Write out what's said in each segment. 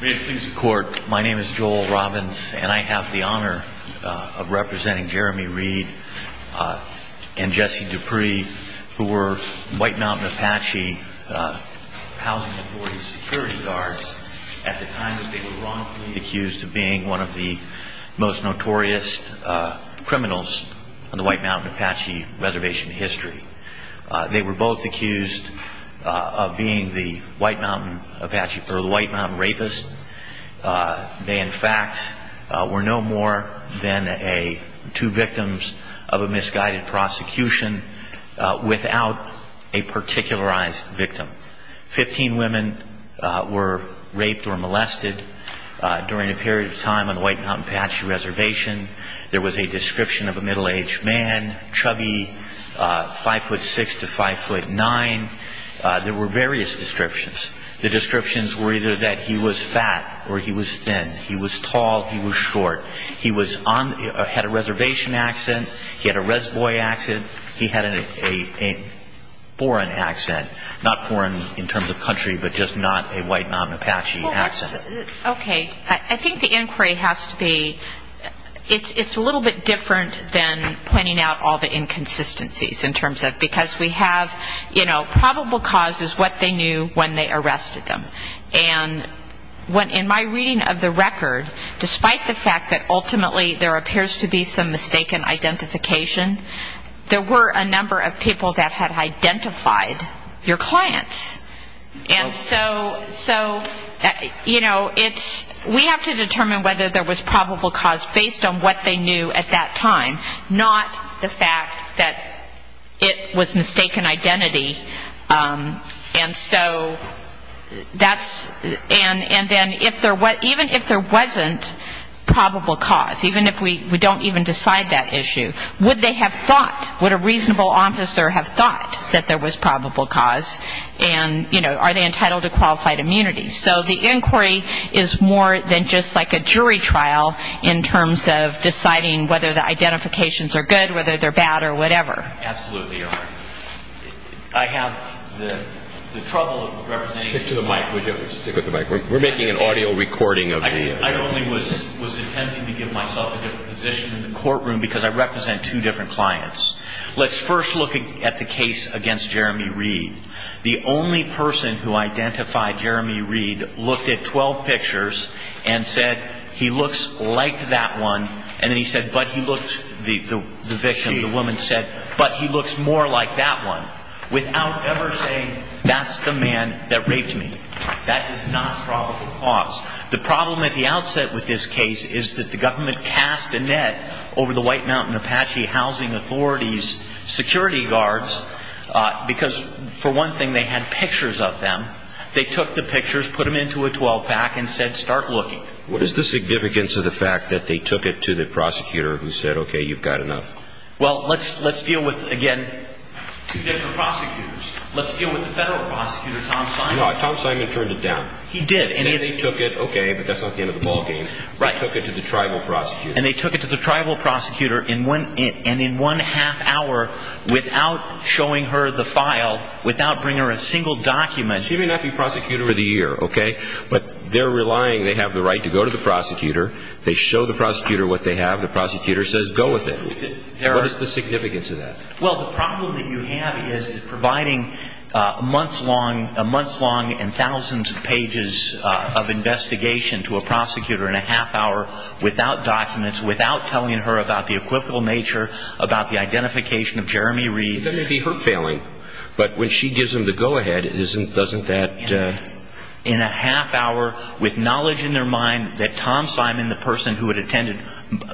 May it please the court, my name is Joel Robbins and I have the honor of representing Jeremy Reed and Jesse Dupris who were White Mountain Apache Housing Authority security guards at the time that they were wrongfully accused of being one of the most notorious criminals on the White Mountain Apache reservation history. They were both accused of being the White Mountain Apache or the White Mountain rapist. They in fact were no more than two victims of a misguided prosecution without a particularized victim. Fifteen women were raped or molested during a period of time on the White Mountain Apache reservation. There was a description of a middle-aged man, chubby, 5'6 to 5'9. There were various descriptions. The descriptions were either that he was fat or he was thin, he was tall, he was short. He had a reservation accent. He had a resvoy accent. He had a foreign accent, not foreign in terms of country, but just not a White Mountain Apache accent. Okay. I think the inquiry has to be, it's a little bit different than pointing out all the inconsistencies in terms of because we have, you know, probable cause is what they knew when they arrested them. And in my reading of the record, despite the fact that ultimately there appears to be some mistaken identification, there were a number of people that had identified your clients. And so, you know, we have to determine whether there was probable cause based on what they knew at that time, not the fact that it was mistaken identity. And so that's, and then even if there wasn't probable cause, even if we don't even decide that issue, would they have thought, would a reasonable officer have thought that there was probable cause and, you know, are they entitled to qualified immunity? So the inquiry is more than just like a jury trial in terms of deciding whether the identifications are good, whether they're bad or whatever. Absolutely, Your Honor. I have the trouble of representing. Stick to the mic, would you? Stick with the mic. We're making an audio recording of the. I only was attempting to give myself a different position in the courtroom because I represent two different clients. Let's first look at the case against Jeremy Reed. The only person who identified Jeremy Reed looked at 12 pictures and said he looks like that one. And then he said, but he looked, the victim, the woman said, but he looks more like that one, without ever saying that's the man that raped me. That is not probable cause. The problem at the outset with this case is that the government cast a net over the White Mountain Apache Housing Authority's security guards because, for one thing, they had pictures of them. They took the pictures, put them into a 12-pack and said start looking. What is the significance of the fact that they took it to the prosecutor who said, okay, you've got enough? Well, let's deal with, again, two different prosecutors. Let's deal with the federal prosecutor, Tom Simon. No, Tom Simon turned it down. He did. They took it, okay, but that's not the end of the ballgame. They took it to the tribal prosecutor. And they took it to the tribal prosecutor and in one half hour, without showing her the file, without bringing her a single document. She may not be prosecutor of the year, okay? But they're relying, they have the right to go to the prosecutor. They show the prosecutor what they have. The prosecutor says go with it. What is the significance of that? Well, the problem that you have is providing months long and thousands of pages of investigation to a prosecutor in a half hour without documents, without telling her about the equivocal nature, about the identification of Jeremy Reed. It doesn't have to be her failing, but when she gives him the go-ahead, doesn't that... In a half hour, with knowledge in their mind that Tom Simon, the person who had attended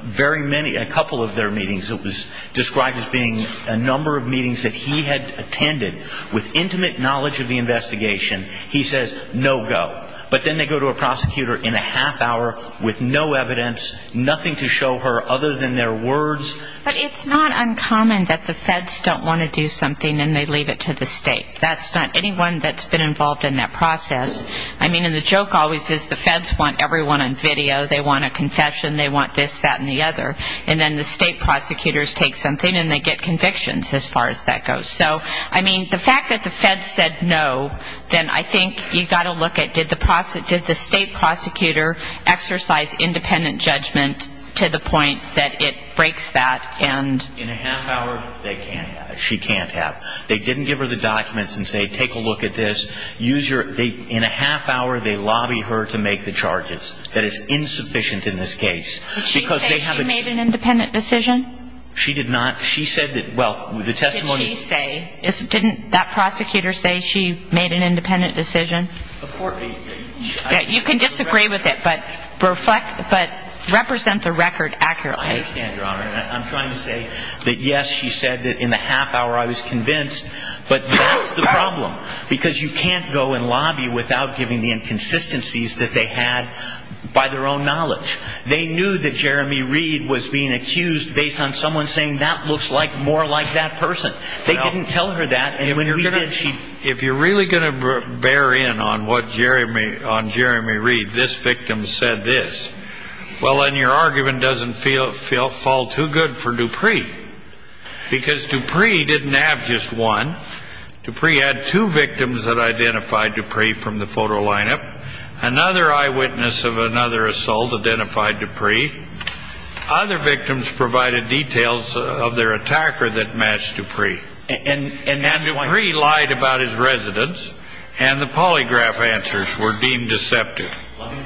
very many, a couple of their meetings, it was described as being a number of meetings that he had attended, with intimate knowledge of the investigation, he says no go. But then they go to a prosecutor in a half hour with no evidence, nothing to show her other than their words. But it's not uncommon that the feds don't want to do something and they leave it to the state. That's not anyone that's been involved in that process. I mean, and the joke always is the feds want everyone on video. They want a confession. They want this, that and the other. And then the state prosecutors take something and they get convictions as far as that goes. So, I mean, the fact that the feds said no, then I think you've got to look at did the state prosecutor exercise independent judgment to the point that it breaks that and... In a half hour, they can't have. She can't have. They didn't give her the documents and say take a look at this. Use your... In a half hour, they lobby her to make the charges. That is insufficient in this case. Did she say she made an independent decision? She did not. She said that, well, the testimony... Did she say? Didn't that prosecutor say she made an independent decision? Of course... You can disagree with it, but represent the record accurately. I understand, Your Honor, and I'm trying to say that, yes, she said that in the half hour I was convinced, but that's the problem because you can't go and lobby without giving the inconsistencies that they had by their own knowledge. They knew that Jeremy Reed was being accused based on someone saying that looks like more like that person. They didn't tell her that. If you're really going to bear in on what Jeremy Reed, this victim said this, well, then your argument doesn't fall too good for Dupree because Dupree didn't have just one. Dupree had two victims that identified Dupree from the photo lineup. Another eyewitness of another assault identified Dupree. Other victims provided details of their attacker that matched Dupree. And Dupree lied about his residence, and the polygraph answers were deemed deceptive. Let me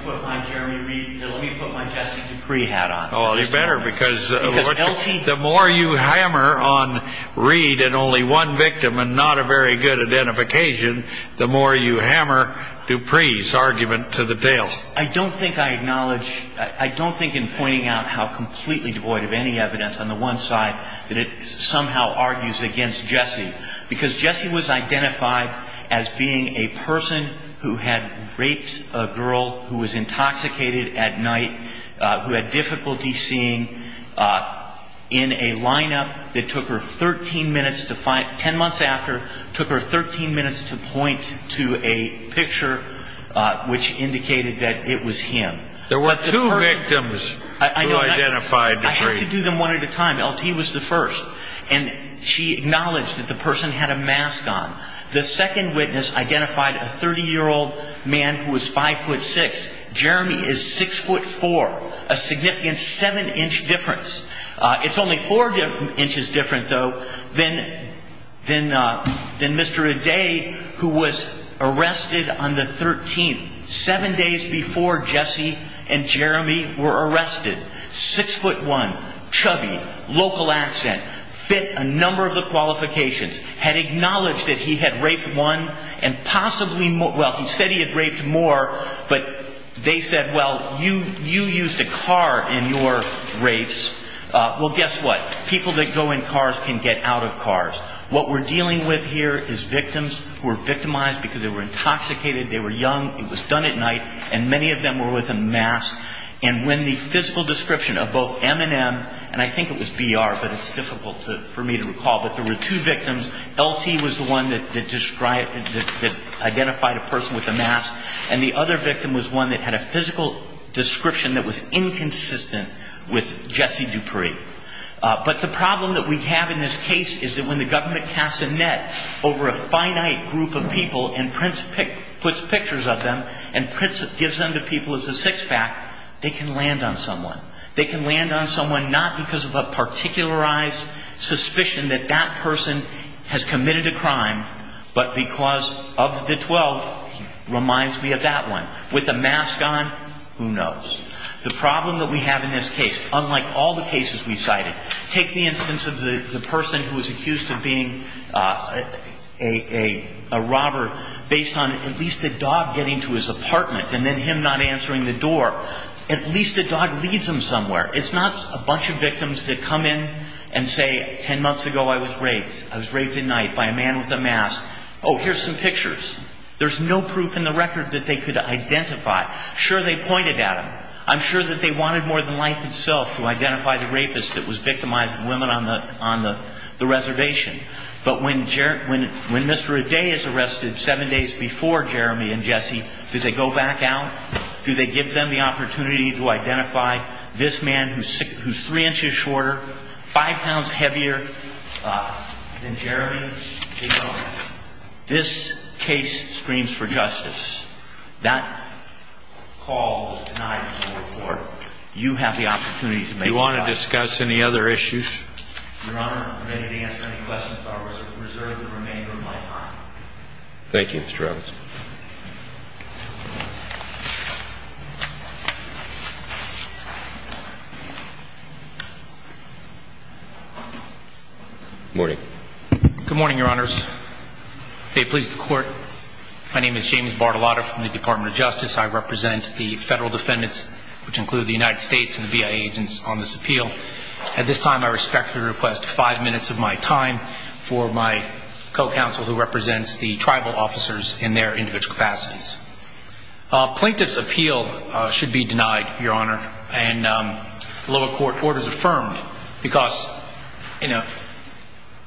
put my Jesse Dupree hat on. Oh, you better because the more you hammer on Reed and only one victim and not a very good identification, the more you hammer Dupree's argument to the tail. I don't think I acknowledge, I don't think in pointing out how completely devoid of any evidence on the one side that it somehow argues against Jesse, because Jesse was identified as being a person who had raped a girl who was intoxicated at night, who had difficulty seeing in a lineup that took her 13 minutes to find, 10 months after, took her 13 minutes to point to a picture which indicated that it was him. There were two victims who identified Dupree. I had to do them one at a time. LT was the first, and she acknowledged that the person had a mask on. The second witness identified a 30-year-old man who was 5'6". Jeremy is 6'4", a significant 7-inch difference. It's only 4 inches different, though, than Mr. Aday, who was arrested on the 13th, 7 days before Jesse and Jeremy were arrested. 6'1", chubby, local accent, fit a number of the qualifications, had acknowledged that he had raped one and possibly more, well, he said he had raped more, but they said, well, you used a car in your rapes. Well, guess what? People that go in cars can get out of cars. What we're dealing with here is victims who were victimized because they were intoxicated, they were young, it was done at night, and many of them were with a mask. And when the physical description of both M&M, and I think it was BR, but it's difficult for me to recall, but there were two victims. LT was the one that described, that identified a person with a mask, and the other victim was one that had a physical description that was inconsistent with Jesse Dupree. But the problem that we have in this case is that when the government casts a net over a finite group of people and puts pictures of them and gives them to people as a six-pack, they can land on someone. They can land on someone not because of a particularized suspicion that that person has committed a crime, but because of the 12, reminds me of that one, with a mask on, who knows. The problem that we have in this case, unlike all the cases we cited, take the instance of the person who was accused of being a robber based on at least a dog getting to his apartment and then him not answering the door. At least a dog leads him somewhere. It's not a bunch of victims that come in and say, 10 months ago I was raped. I was raped at night by a man with a mask. Oh, here's some pictures. There's no proof in the record that they could identify. Sure, they pointed at him. I'm sure that they wanted more than life itself to identify the rapist that was victimizing women on the reservation. But when Mr. O'Day is arrested seven days before Jeremy and Jesse, do they go back out? Do they give them the opportunity to identify this man who's three inches shorter, five pounds heavier than Jeremy? This case screams for justice. That call was denied in the report. You have the opportunity to make that call. Do you want to discuss any other issues? Your Honor, I'm ready to answer any questions that are reserved for the remainder of my time. Thank you, Mr. Roberts. Good morning. Good morning, Your Honors. May it please the Court, my name is James Bartolotti. I'm from the Department of Justice. I represent the federal defendants, which include the United States and the BIA agents on this appeal. At this time, I respectfully request five minutes of my time for my co-counsel who represents the tribal officers in their individual capacities. Plaintiff's appeal should be denied, Your Honor, and lower court orders affirmed because, you know,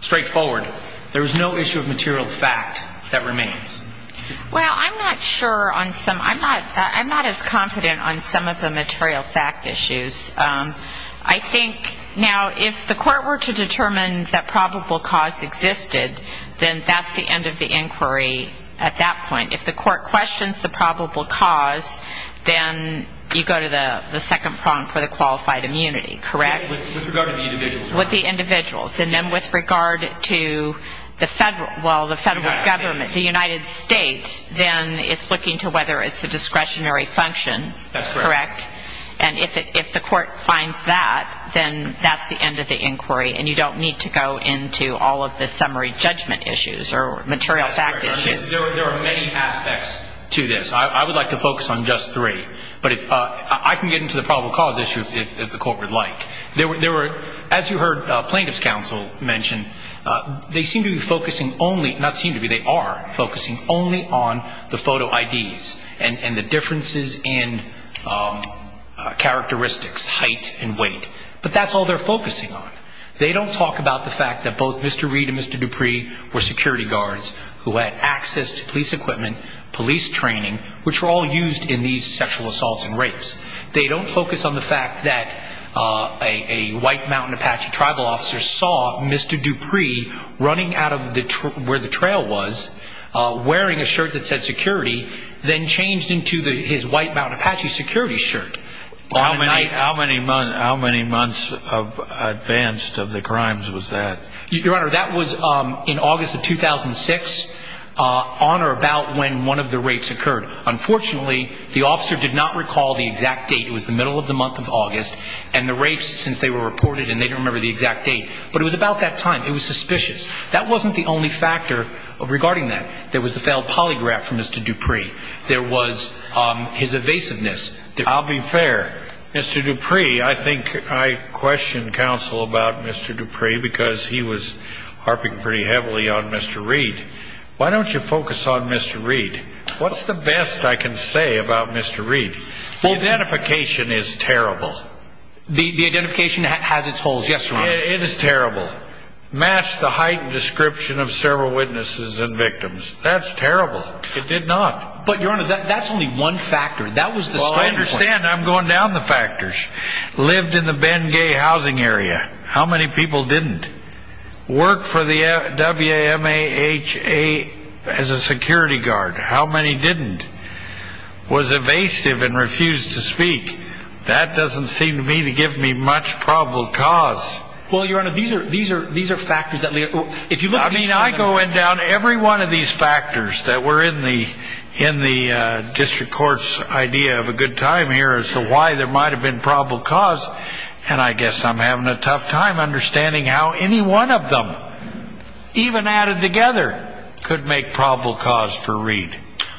straightforward. Well, I'm not sure on some, I'm not as confident on some of the material fact issues. I think now if the court were to determine that probable cause existed, then that's the end of the inquiry at that point. If the court questions the probable cause, then you go to the second prong for the qualified immunity, correct? With regard to the individuals. And then with regard to the federal, well, the federal government, the United States, then it's looking to whether it's a discretionary function, correct? That's correct. And if the court finds that, then that's the end of the inquiry, and you don't need to go into all of the summary judgment issues or material fact issues. There are many aspects to this. I would like to focus on just three, but I can get into the probable cause issue if the court would like. As you heard plaintiff's counsel mention, they seem to be focusing only, not seem to be, they are focusing only on the photo IDs and the differences in characteristics, height and weight. But that's all they're focusing on. They don't talk about the fact that both Mr. Reid and Mr. Dupree were security guards who had access to police equipment, police training, which were all used in these sexual assaults and rapes. They don't focus on the fact that a White Mountain Apache tribal officer saw Mr. Dupree running out of where the trail was, wearing a shirt that said security, then changed into his White Mountain Apache security shirt. How many months advanced of the crimes was that? Your Honor, that was in August of 2006, on or about when one of the rapes occurred. Unfortunately, the officer did not recall the exact date. It was the middle of the month of August and the rapes since they were reported, and they don't remember the exact date. But it was about that time. It was suspicious. That wasn't the only factor regarding that. There was the failed polygraph from Mr. Dupree. There was his evasiveness. I'll be fair. Mr. Dupree, I think I questioned counsel about Mr. Dupree because he was harping pretty heavily on Mr. Reid. Why don't you focus on Mr. Reid? What's the best I can say about Mr. Reid? Identification is terrible. The identification has its holes. Yes, Your Honor. It is terrible. Match the heightened description of several witnesses and victims. That's terrible. It did not. But, Your Honor, that's only one factor. That was the starting point. I understand. I'm going down the factors. Lived in the Bengay housing area. How many people didn't? Worked for the WMHA as a security guard. How many didn't? Was evasive and refused to speak. That doesn't seem to me to give me much probable cause. Well, Your Honor, these are factors that... I mean, I go down every one of these factors that were in the district court's idea of a good time here as to why there might have been probable cause. And I guess I'm having a tough time understanding how any one of them, even added together, could make probable cause for Reid.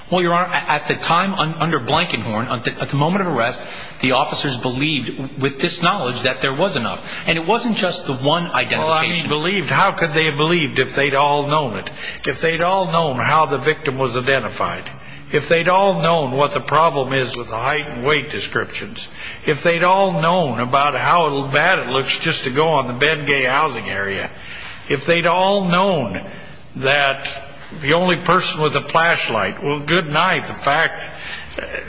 Well, Your Honor, at the time under Blankenhorn, at the moment of arrest, the officers believed, with this knowledge, that there was enough. And it wasn't just the one identification. Well, I mean, believed. How could they have believed if they'd all known it? If they'd all known how the victim was identified. If they'd all known what the problem is with the heightened weight descriptions. If they'd all known about how bad it looks just to go on the Ben Gay housing area. If they'd all known that the only person with a flashlight... Well, goodnight, the fact...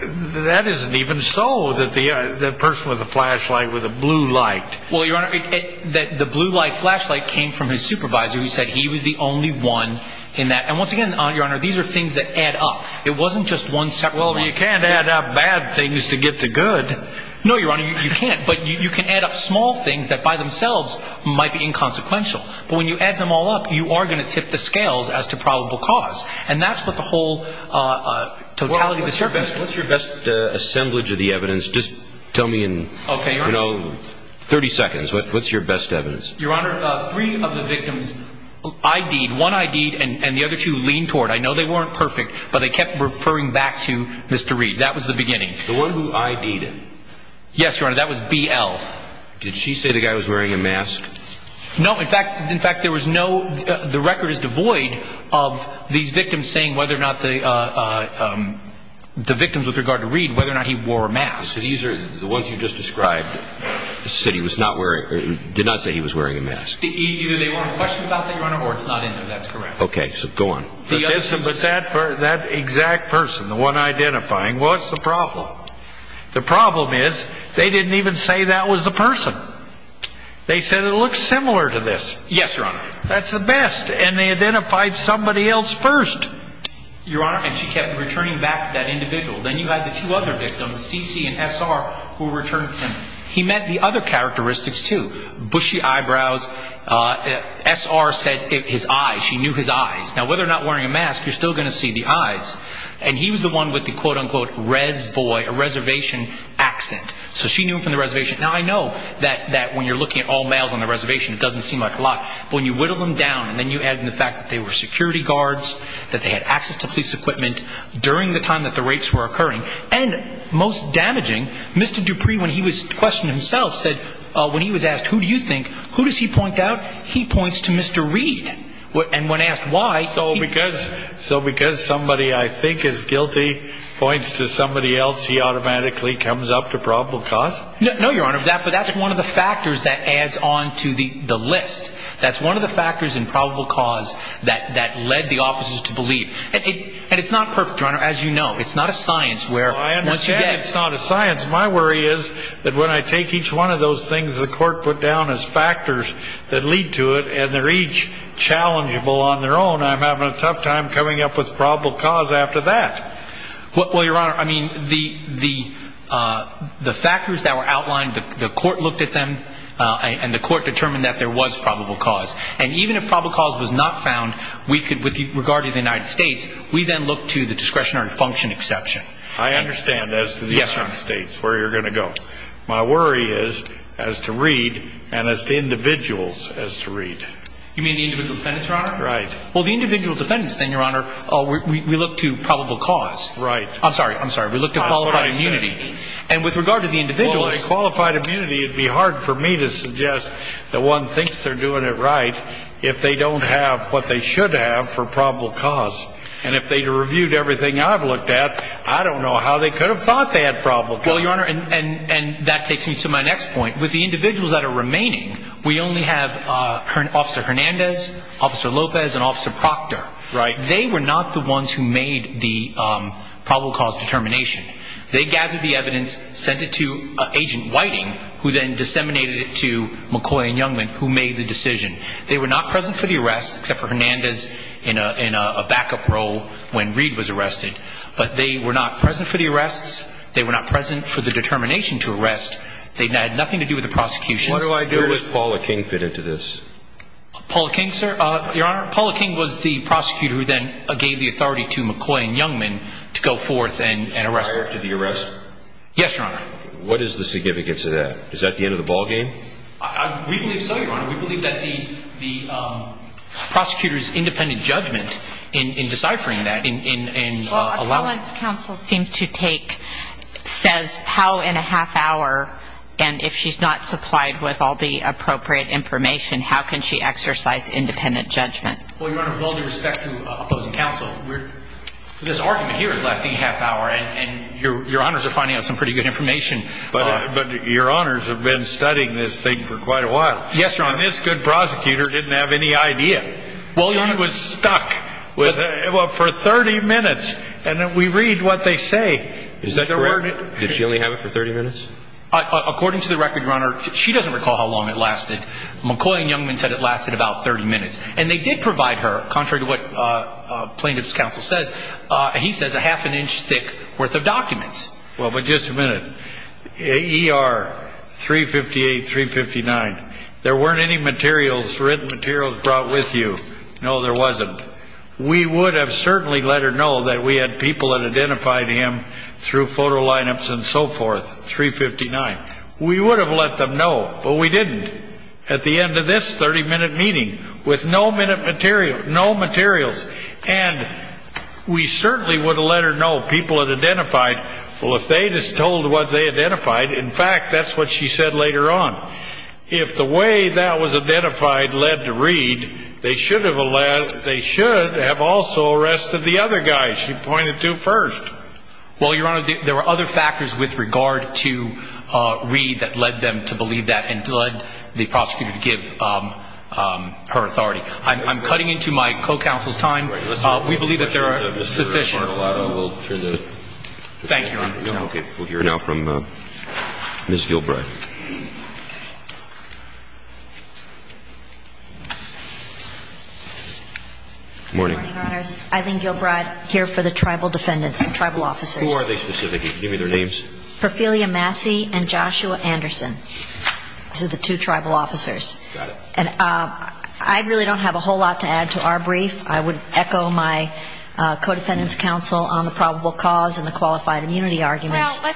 That isn't even so, that the person with the flashlight was a blue light. Well, Your Honor, the blue light flashlight came from his supervisor. He said he was the only one in that. And once again, Your Honor, these are things that add up. It wasn't just one separate one. Well, you can't add up bad things to get the good. No, Your Honor, you can't. But you can add up small things that by themselves might be inconsequential. But when you add them all up, you are going to tip the scales as to probable cause. And that's what the whole totality of the circuit... What's your best assemblage of the evidence? Just tell me in, you know, 30 seconds. What's your best evidence? Your Honor, three of the victims ID'd. One ID'd and the other two leaned toward. I know they weren't perfect, but they kept referring back to Mr. Reed. That was the beginning. The one who ID'd him? Yes, Your Honor, that was BL. Did she say the guy was wearing a mask? No. In fact, there was no... The record is devoid of these victims saying whether or not the... The victims with regard to Reed, whether or not he wore a mask. So these are the ones you just described, said he was not wearing... Did not say he was wearing a mask. Either they want a question about that, Your Honor, or it's not in there. That's correct. Okay, so go on. But that exact person, the one identifying, what's the problem? The problem is they didn't even say that was the person. They said it looked similar to this. Yes, Your Honor. That's the best, and they identified somebody else first. Your Honor, and she kept returning back to that individual. Then you had the two other victims, C.C. and S.R., who returned to him. He met the other characteristics, too. Bushy eyebrows. S.R. said his eyes. She knew his eyes. Now, whether or not wearing a mask, you're still going to see the eyes. And he was the one with the quote-unquote res boy, a reservation accent. So she knew him from the reservation. Now, I know that when you're looking at all males on the reservation, it doesn't seem like a lot. But when you whittle them down and then you add in the fact that they were security guards, that they had access to police equipment during the time that the rapes were occurring, and most damaging, Mr. Dupree, when he was questioned himself, said when he was asked, who do you think, who does he point out? He points to Mr. Reed. And when asked why. So because somebody I think is guilty points to somebody else, he automatically comes up to probable cause? No, Your Honor. But that's one of the factors that adds on to the list. That's one of the factors in probable cause that led the officers to believe. And it's not perfect, Your Honor, as you know. It's not a science. Well, I understand it's not a science. My worry is that when I take each one of those things the court put down as factors that lead to it, and they're each challengeable on their own, I'm having a tough time coming up with probable cause after that. Well, Your Honor, I mean, the factors that were outlined, the court looked at them, and the court determined that there was probable cause. And even if probable cause was not found, we could, with regard to the United States, we then look to the discretionary function exception. I understand as to the United States where you're going to go. My worry is as to Reed and as to individuals as to Reed. You mean the individual defendants, Your Honor? Right. Well, the individual defendants, then, Your Honor, we look to probable cause. Right. I'm sorry, I'm sorry. We look to qualified immunity. And with regard to the individuals. Well, a qualified immunity, it would be hard for me to suggest that one thinks they're doing it right if they don't have what they should have for probable cause. And if they reviewed everything I've looked at, I don't know how they could have thought they had probable cause. Well, Your Honor, and that takes me to my next point. With the individuals that are remaining, we only have Officer Hernandez, Officer Lopez, and Officer Proctor. Right. They were not the ones who made the probable cause determination. They gathered the evidence, sent it to Agent Whiting, who then disseminated it to McCoy and Youngman, who made the decision. They were not present for the arrest, except for Hernandez in a backup role when Reed was arrested. But they were not present for the arrests. They were not present for the determination to arrest. They had nothing to do with the prosecution. What do I do if Paula King fit into this? Paula King, sir? Your Honor, Paula King was the prosecutor who then gave the authority to McCoy and Youngman to go forth and arrest them. Is she prior to the arrest? Yes, Your Honor. What is the significance of that? Is that the end of the ballgame? We believe so, Your Honor. We believe that the prosecutor's independent judgment in deciphering that and allowing it. Well, appellant's counsel seems to take, says how in a half hour, and if she's not supplied with all the appropriate information, how can she exercise independent judgment? Well, Your Honor, with all due respect to opposing counsel, this argument here is lasting a half hour, and Your Honors are finding out some pretty good information. But Your Honors have been studying this thing for quite a while. Yes, Your Honor. And this good prosecutor didn't have any idea. Well, Your Honor. He was stuck for 30 minutes. And we read what they say. Is that correct? Did she only have it for 30 minutes? According to the record, Your Honor, she doesn't recall how long it lasted. McCoy and Youngman said it lasted about 30 minutes. And they did provide her, contrary to what plaintiff's counsel says, he says a half an inch thick worth of documents. Well, but just a minute. AER 358, 359. There weren't any materials, written materials brought with you. No, there wasn't. We would have certainly let her know that we had people that identified him through photo lineups and so forth. 359. We would have let them know, but we didn't at the end of this 30-minute meeting with no materials. And we certainly would have let her know people had identified. Well, if they just told what they identified, in fact, that's what she said later on. If the way that was identified led to Reed, they should have also arrested the other guys she pointed to first. Well, Your Honor, there were other factors with regard to Reed that led them to believe that and led the prosecutor to give her authority. I'm cutting into my co-counsel's time. We believe that there are sufficient. Thank you, Your Honor. We'll hear now from Ms. Gilbride. Good morning. Good morning, Your Honors. Eileen Gilbride here for the tribal defendants, the tribal officers. Who are they specifically? Give me their names. Perfilia Massey and Joshua Anderson. These are the two tribal officers. Got it. And I really don't have a whole lot to add to our brief. I would echo my co-defendant's counsel on the probable cause and the qualified immunity arguments. Well,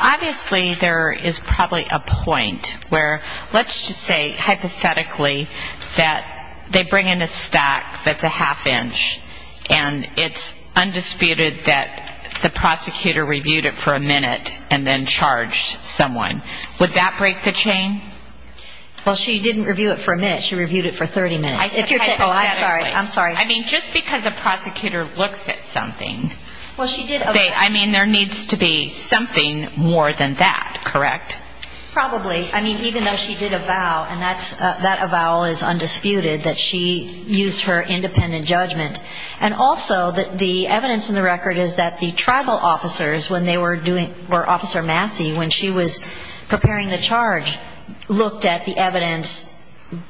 obviously there is probably a point where let's just say hypothetically that they bring in a stack that's a half-inch and it's undisputed that the prosecutor reviewed it for a minute and then charged someone. Would that break the chain? Well, she didn't review it for a minute. She reviewed it for 30 minutes. I said hypothetically. I'm sorry. I'm sorry. I mean, just because a prosecutor looks at something. Well, she did. I mean, there needs to be something more than that, correct? Probably. I mean, even though she did avow, and that avow is undisputed, that she used her independent judgment. And also, the evidence in the record is that the tribal officers, when they were doing or Officer Massey, when she was preparing the charge, looked at the evidence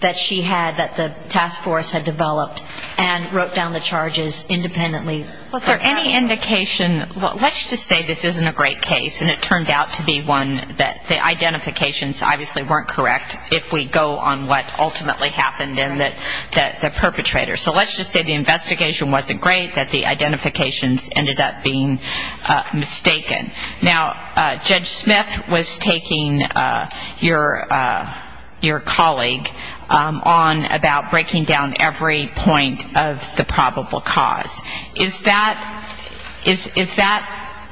that she had, that the task force had developed, and wrote down the charges independently. Was there any indication? Let's just say this isn't a great case, and it turned out to be one that the identifications obviously weren't correct, if we go on what ultimately happened in the perpetrator. So let's just say the investigation wasn't great, that the identifications ended up being mistaken. Now, Judge Smith was taking your colleague on about breaking down every point of the probable cause. Is that,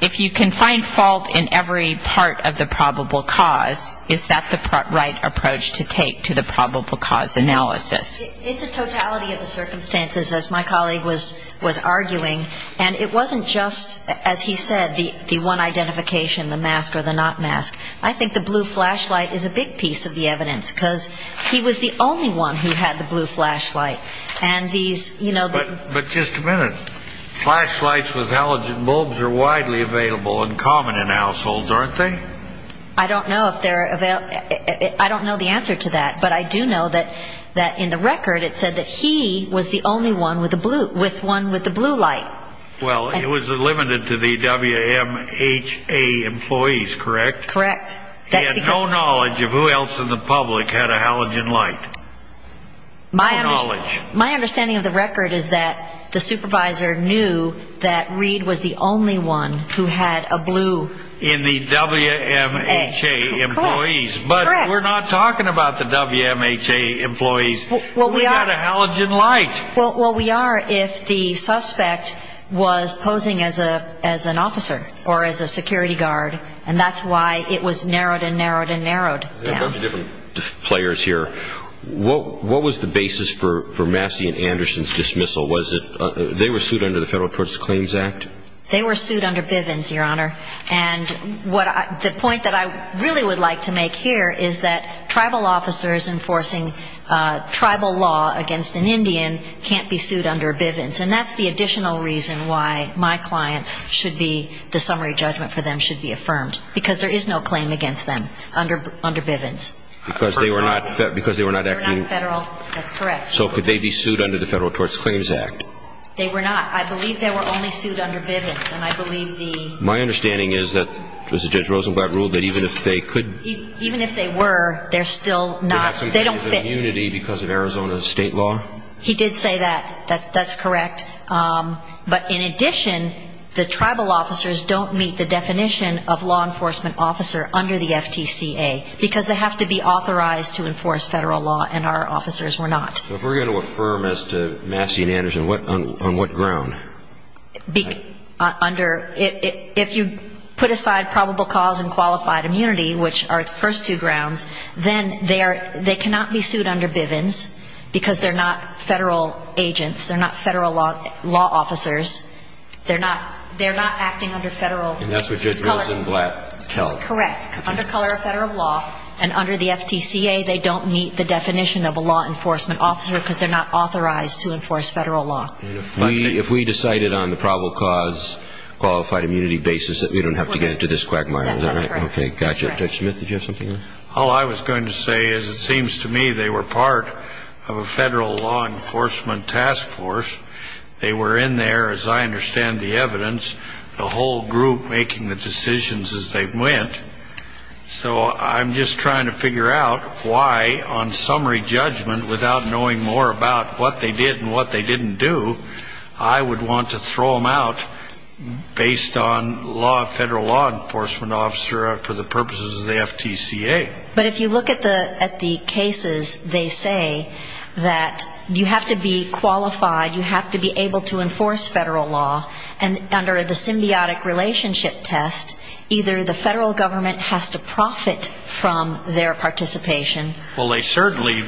if you can find fault in every part of the probable cause, is that the right approach to take to the probable cause analysis? It's a totality of the circumstances, as my colleague was arguing. And it wasn't just, as he said, the one identification, the mask or the not mask. I think the blue flashlight is a big piece of the evidence, because he was the only one who had the blue flashlight. But just a minute. Flashlights with halogen bulbs are widely available and common in households, aren't they? I don't know the answer to that. But I do know that in the record it said that he was the only one with the blue light. Well, it was limited to the WMHA employees, correct? Correct. He had no knowledge of who else in the public had a halogen light. No knowledge. My understanding of the record is that the supervisor knew that Reed was the only one who had a blue. In the WMHA employees. Correct. But we're not talking about the WMHA employees. We've got a halogen light. Well, we are if the suspect was posing as an officer or as a security guard, and that's why it was narrowed and narrowed and narrowed down. There are a bunch of different players here. What was the basis for Massey and Anderson's dismissal? They were sued under the Federal Torture Claims Act? They were sued under Bivens, Your Honor. And the point that I really would like to make here is that tribal officers enforcing tribal law against an Indian can't be sued under Bivens. And that's the additional reason why my clients should be, the summary judgment for them should be affirmed, because there is no claim against them under Bivens. Because they were not acting. They were not federal. That's correct. So could they be sued under the Federal Torture Claims Act? They were not. I believe they were only sued under Bivens. My understanding is that Judge Rosenblatt ruled that even if they could. Even if they were, they're still not, they don't fit. They have some kind of immunity because of Arizona state law? He did say that. That's correct. But in addition, the tribal officers don't meet the definition of law enforcement officer under the FTCA because they have to be authorized to enforce federal law, and our officers were not. So if we're going to affirm as to Massey and Anderson, on what ground? Under, if you put aside probable cause and qualified immunity, which are the first two grounds, then they cannot be sued under Bivens because they're not federal agents. They're not federal law officers. They're not acting under federal color. And that's what Judge Rosenblatt tells us. Correct. Under color of federal law, and under the FTCA, they don't meet the definition of a law enforcement officer because they're not authorized to enforce federal law. If we decided on the probable cause, qualified immunity basis, that we don't have to get into this quagmire. That's correct. Okay, gotcha. Judge Smith, did you have something? All I was going to say is it seems to me they were part of a federal law enforcement task force. They were in there, as I understand the evidence, the whole group making the decisions as they went. So I'm just trying to figure out why, on summary judgment, without knowing more about what they did and what they didn't do, I would want to throw them out based on federal law enforcement officer for the purposes of the FTCA. But if you look at the cases, they say that you have to be qualified, you have to be able to enforce federal law. And under the symbiotic relationship test, either the federal government has to profit from their participation. Well, they certainly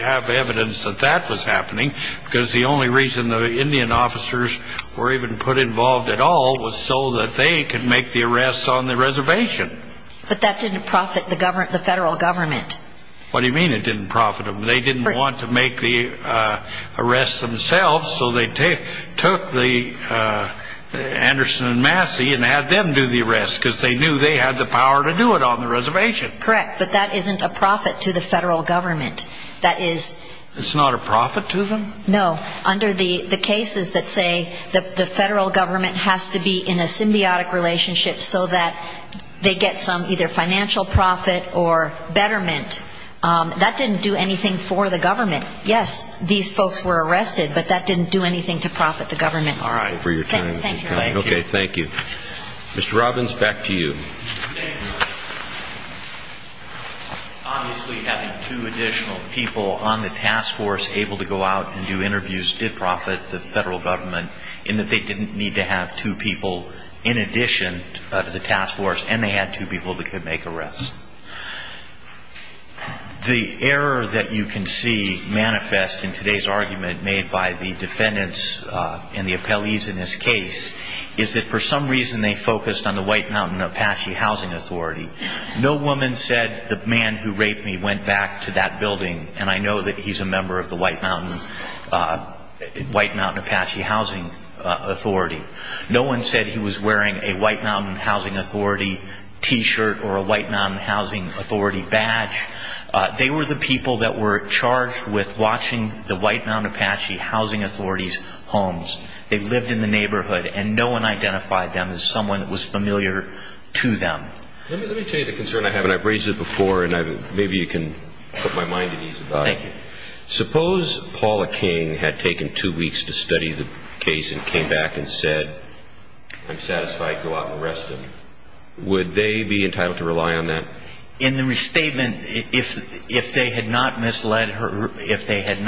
have evidence that that was happening because the only reason the Indian officers were even put involved at all was so that they could make the arrests on the reservation. But that didn't profit the federal government. What do you mean it didn't profit them? They didn't want to make the arrests themselves, so they took Anderson and Massey and had them do the arrests because they knew they had the power to do it on the reservation. Correct, but that isn't a profit to the federal government. That is... It's not a profit to them? No. Under the cases that say the federal government has to be in a symbiotic relationship so that they get some either financial profit or betterment, that didn't do anything for the government. Yes, these folks were arrested, but that didn't do anything to profit the government. All right. Thank you. Okay, thank you. Mr. Robbins, back to you. Thank you. Obviously having two additional people on the task force able to go out and do interviews did profit the federal government in that they didn't need to have two people in addition to the task force, and they had two people that could make arrests. The error that you can see manifest in today's argument made by the defendants and the appellees in this case is that for some reason they focused on the White Mountain Apache Housing Authority. No woman said the man who raped me went back to that building, and I know that he's a member of the White Mountain Apache Housing Authority. No one said he was wearing a White Mountain Housing Authority T-shirt or a White Mountain Housing Authority badge. They were the people that were charged with watching the White Mountain Apache Housing Authority's homes. They lived in the neighborhood, and no one identified them as someone that was familiar to them. Let me tell you the concern I have, and I've raised it before, and maybe you can put my mind at ease about it. Thank you. Suppose Paula King had taken two weeks to study the case and came back and said, I'm satisfied, go out and arrest him. Would they be entitled to rely on that? In the restatement, if they had not misled her, if they had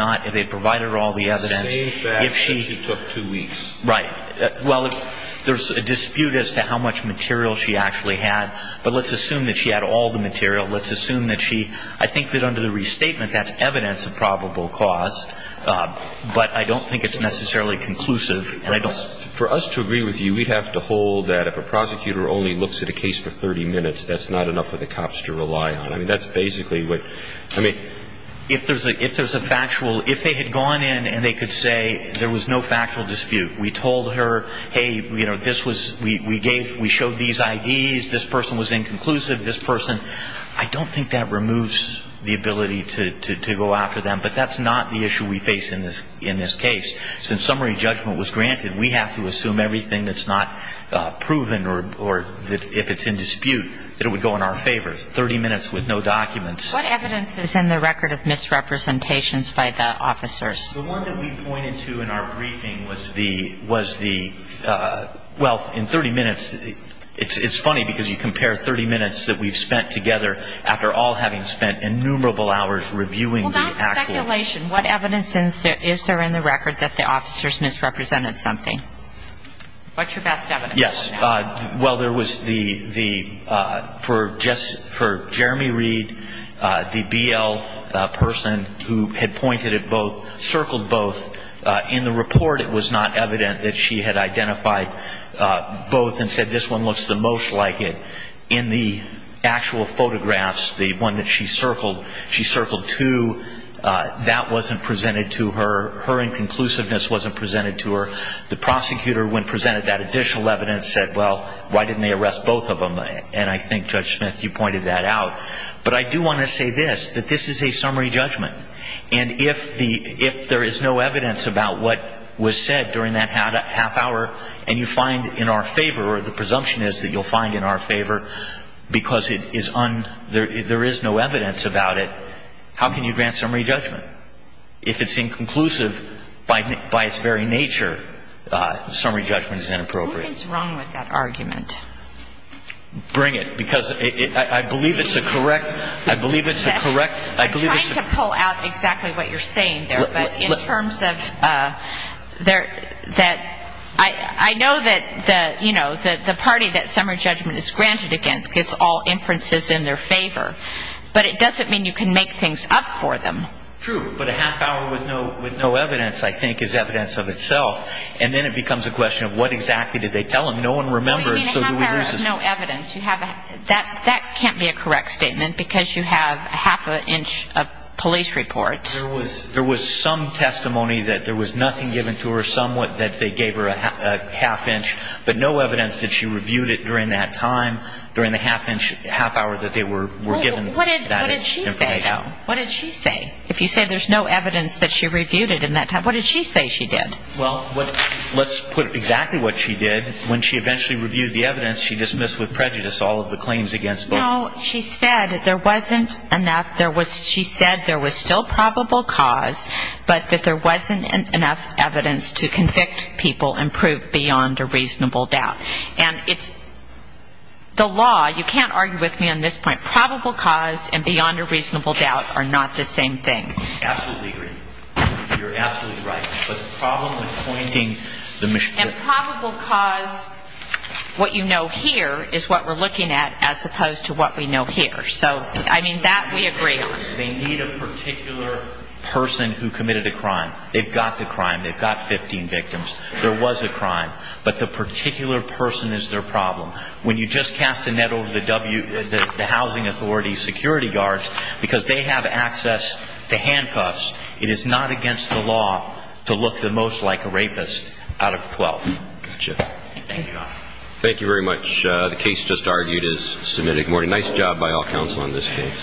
provided her all the evidence, If she took two weeks. Right. Well, there's a dispute as to how much material she actually had, but let's assume that she had all the material. Let's assume that she, I think that under the restatement that's evidence of probable cause, but I don't think it's necessarily conclusive. For us to agree with you, we'd have to hold that if a prosecutor only looks at a case for 30 minutes, that's not enough for the cops to rely on. I mean, that's basically what, I mean, if there's a factual, if they had gone in and they could say there was no factual dispute, we told her, hey, you know, this was, we gave, we showed these IDs, this person was inconclusive, this person, I don't think that removes the ability to go after them, but that's not the issue we face in this case. Since summary judgment was granted, we have to assume everything that's not proven or if it's in dispute, that it would go in our favor. 30 minutes with no documents. What evidence is in the record of misrepresentations by the officers? The one that we pointed to in our briefing was the, well, in 30 minutes, it's funny because you compare 30 minutes that we've spent together after all having spent innumerable hours reviewing the actual. Well, that's speculation. What evidence is there in the record that the officers misrepresented something? What's your best evidence? Yes. Well, there was the, for Jeremy Reed, the BL person who had pointed at both, circled both, in the report it was not evident that she had identified both and said this one looks the most like it. In the actual photographs, the one that she circled, she circled two. That wasn't presented to her. Her inconclusiveness wasn't presented to her. The prosecutor, when presented that additional evidence, said, well, why didn't they arrest both of them? And I think, Judge Smith, you pointed that out. But I do want to say this, that this is a summary judgment. And if there is no evidence about what was said during that half hour and you find in our favor or the presumption is that you'll find in our favor because there is no evidence about it, how can you grant summary judgment? If it's inconclusive by its very nature, summary judgment is inappropriate. What is wrong with that argument? Bring it. Because I believe it's a correct, I believe it's a correct, I believe it's a... I'm trying to pull out exactly what you're saying there. But in terms of that, I know that, you know, the party that summary judgment is granted against gets all inferences in their favor. But it doesn't mean you can make things up for them. True. But a half hour with no evidence, I think, is evidence of itself. And then it becomes a question of what exactly did they tell him. No one remembers. Well, you mean a half hour of no evidence. That can't be a correct statement because you have half an inch of police reports. There was some testimony that there was nothing given to her, somewhat, that they gave her a half inch, but no evidence that she reviewed it during that time, during the half hour that they were given that information. What did she say, though? What did she say? If you say there's no evidence that she reviewed it in that time, what did she say she did? Well, let's put exactly what she did. When she eventually reviewed the evidence, she dismissed with prejudice all of the claims against both. No, she said there wasn't enough. She said there was still probable cause, but that there wasn't enough evidence to convict people and prove beyond a reasonable doubt. And it's the law. You can't argue with me on this point. Probable cause and beyond a reasonable doubt are not the same thing. I absolutely agree. You're absolutely right. But the problem with pointing the mischief. And probable cause, what you know here, is what we're looking at as opposed to what we know here. So, I mean, that we agree on. They need a particular person who committed a crime. They've got the crime. They've got 15 victims. There was a crime. But the particular person is their problem. When you just cast a net over the housing authority security guards, because they have access to handcuffs, it is not against the law to look the most like a rapist out of 12. Gotcha. Thank you, Your Honor. Thank you very much. The case just argued is submitted. Good morning. Nice job by all counsel in this case.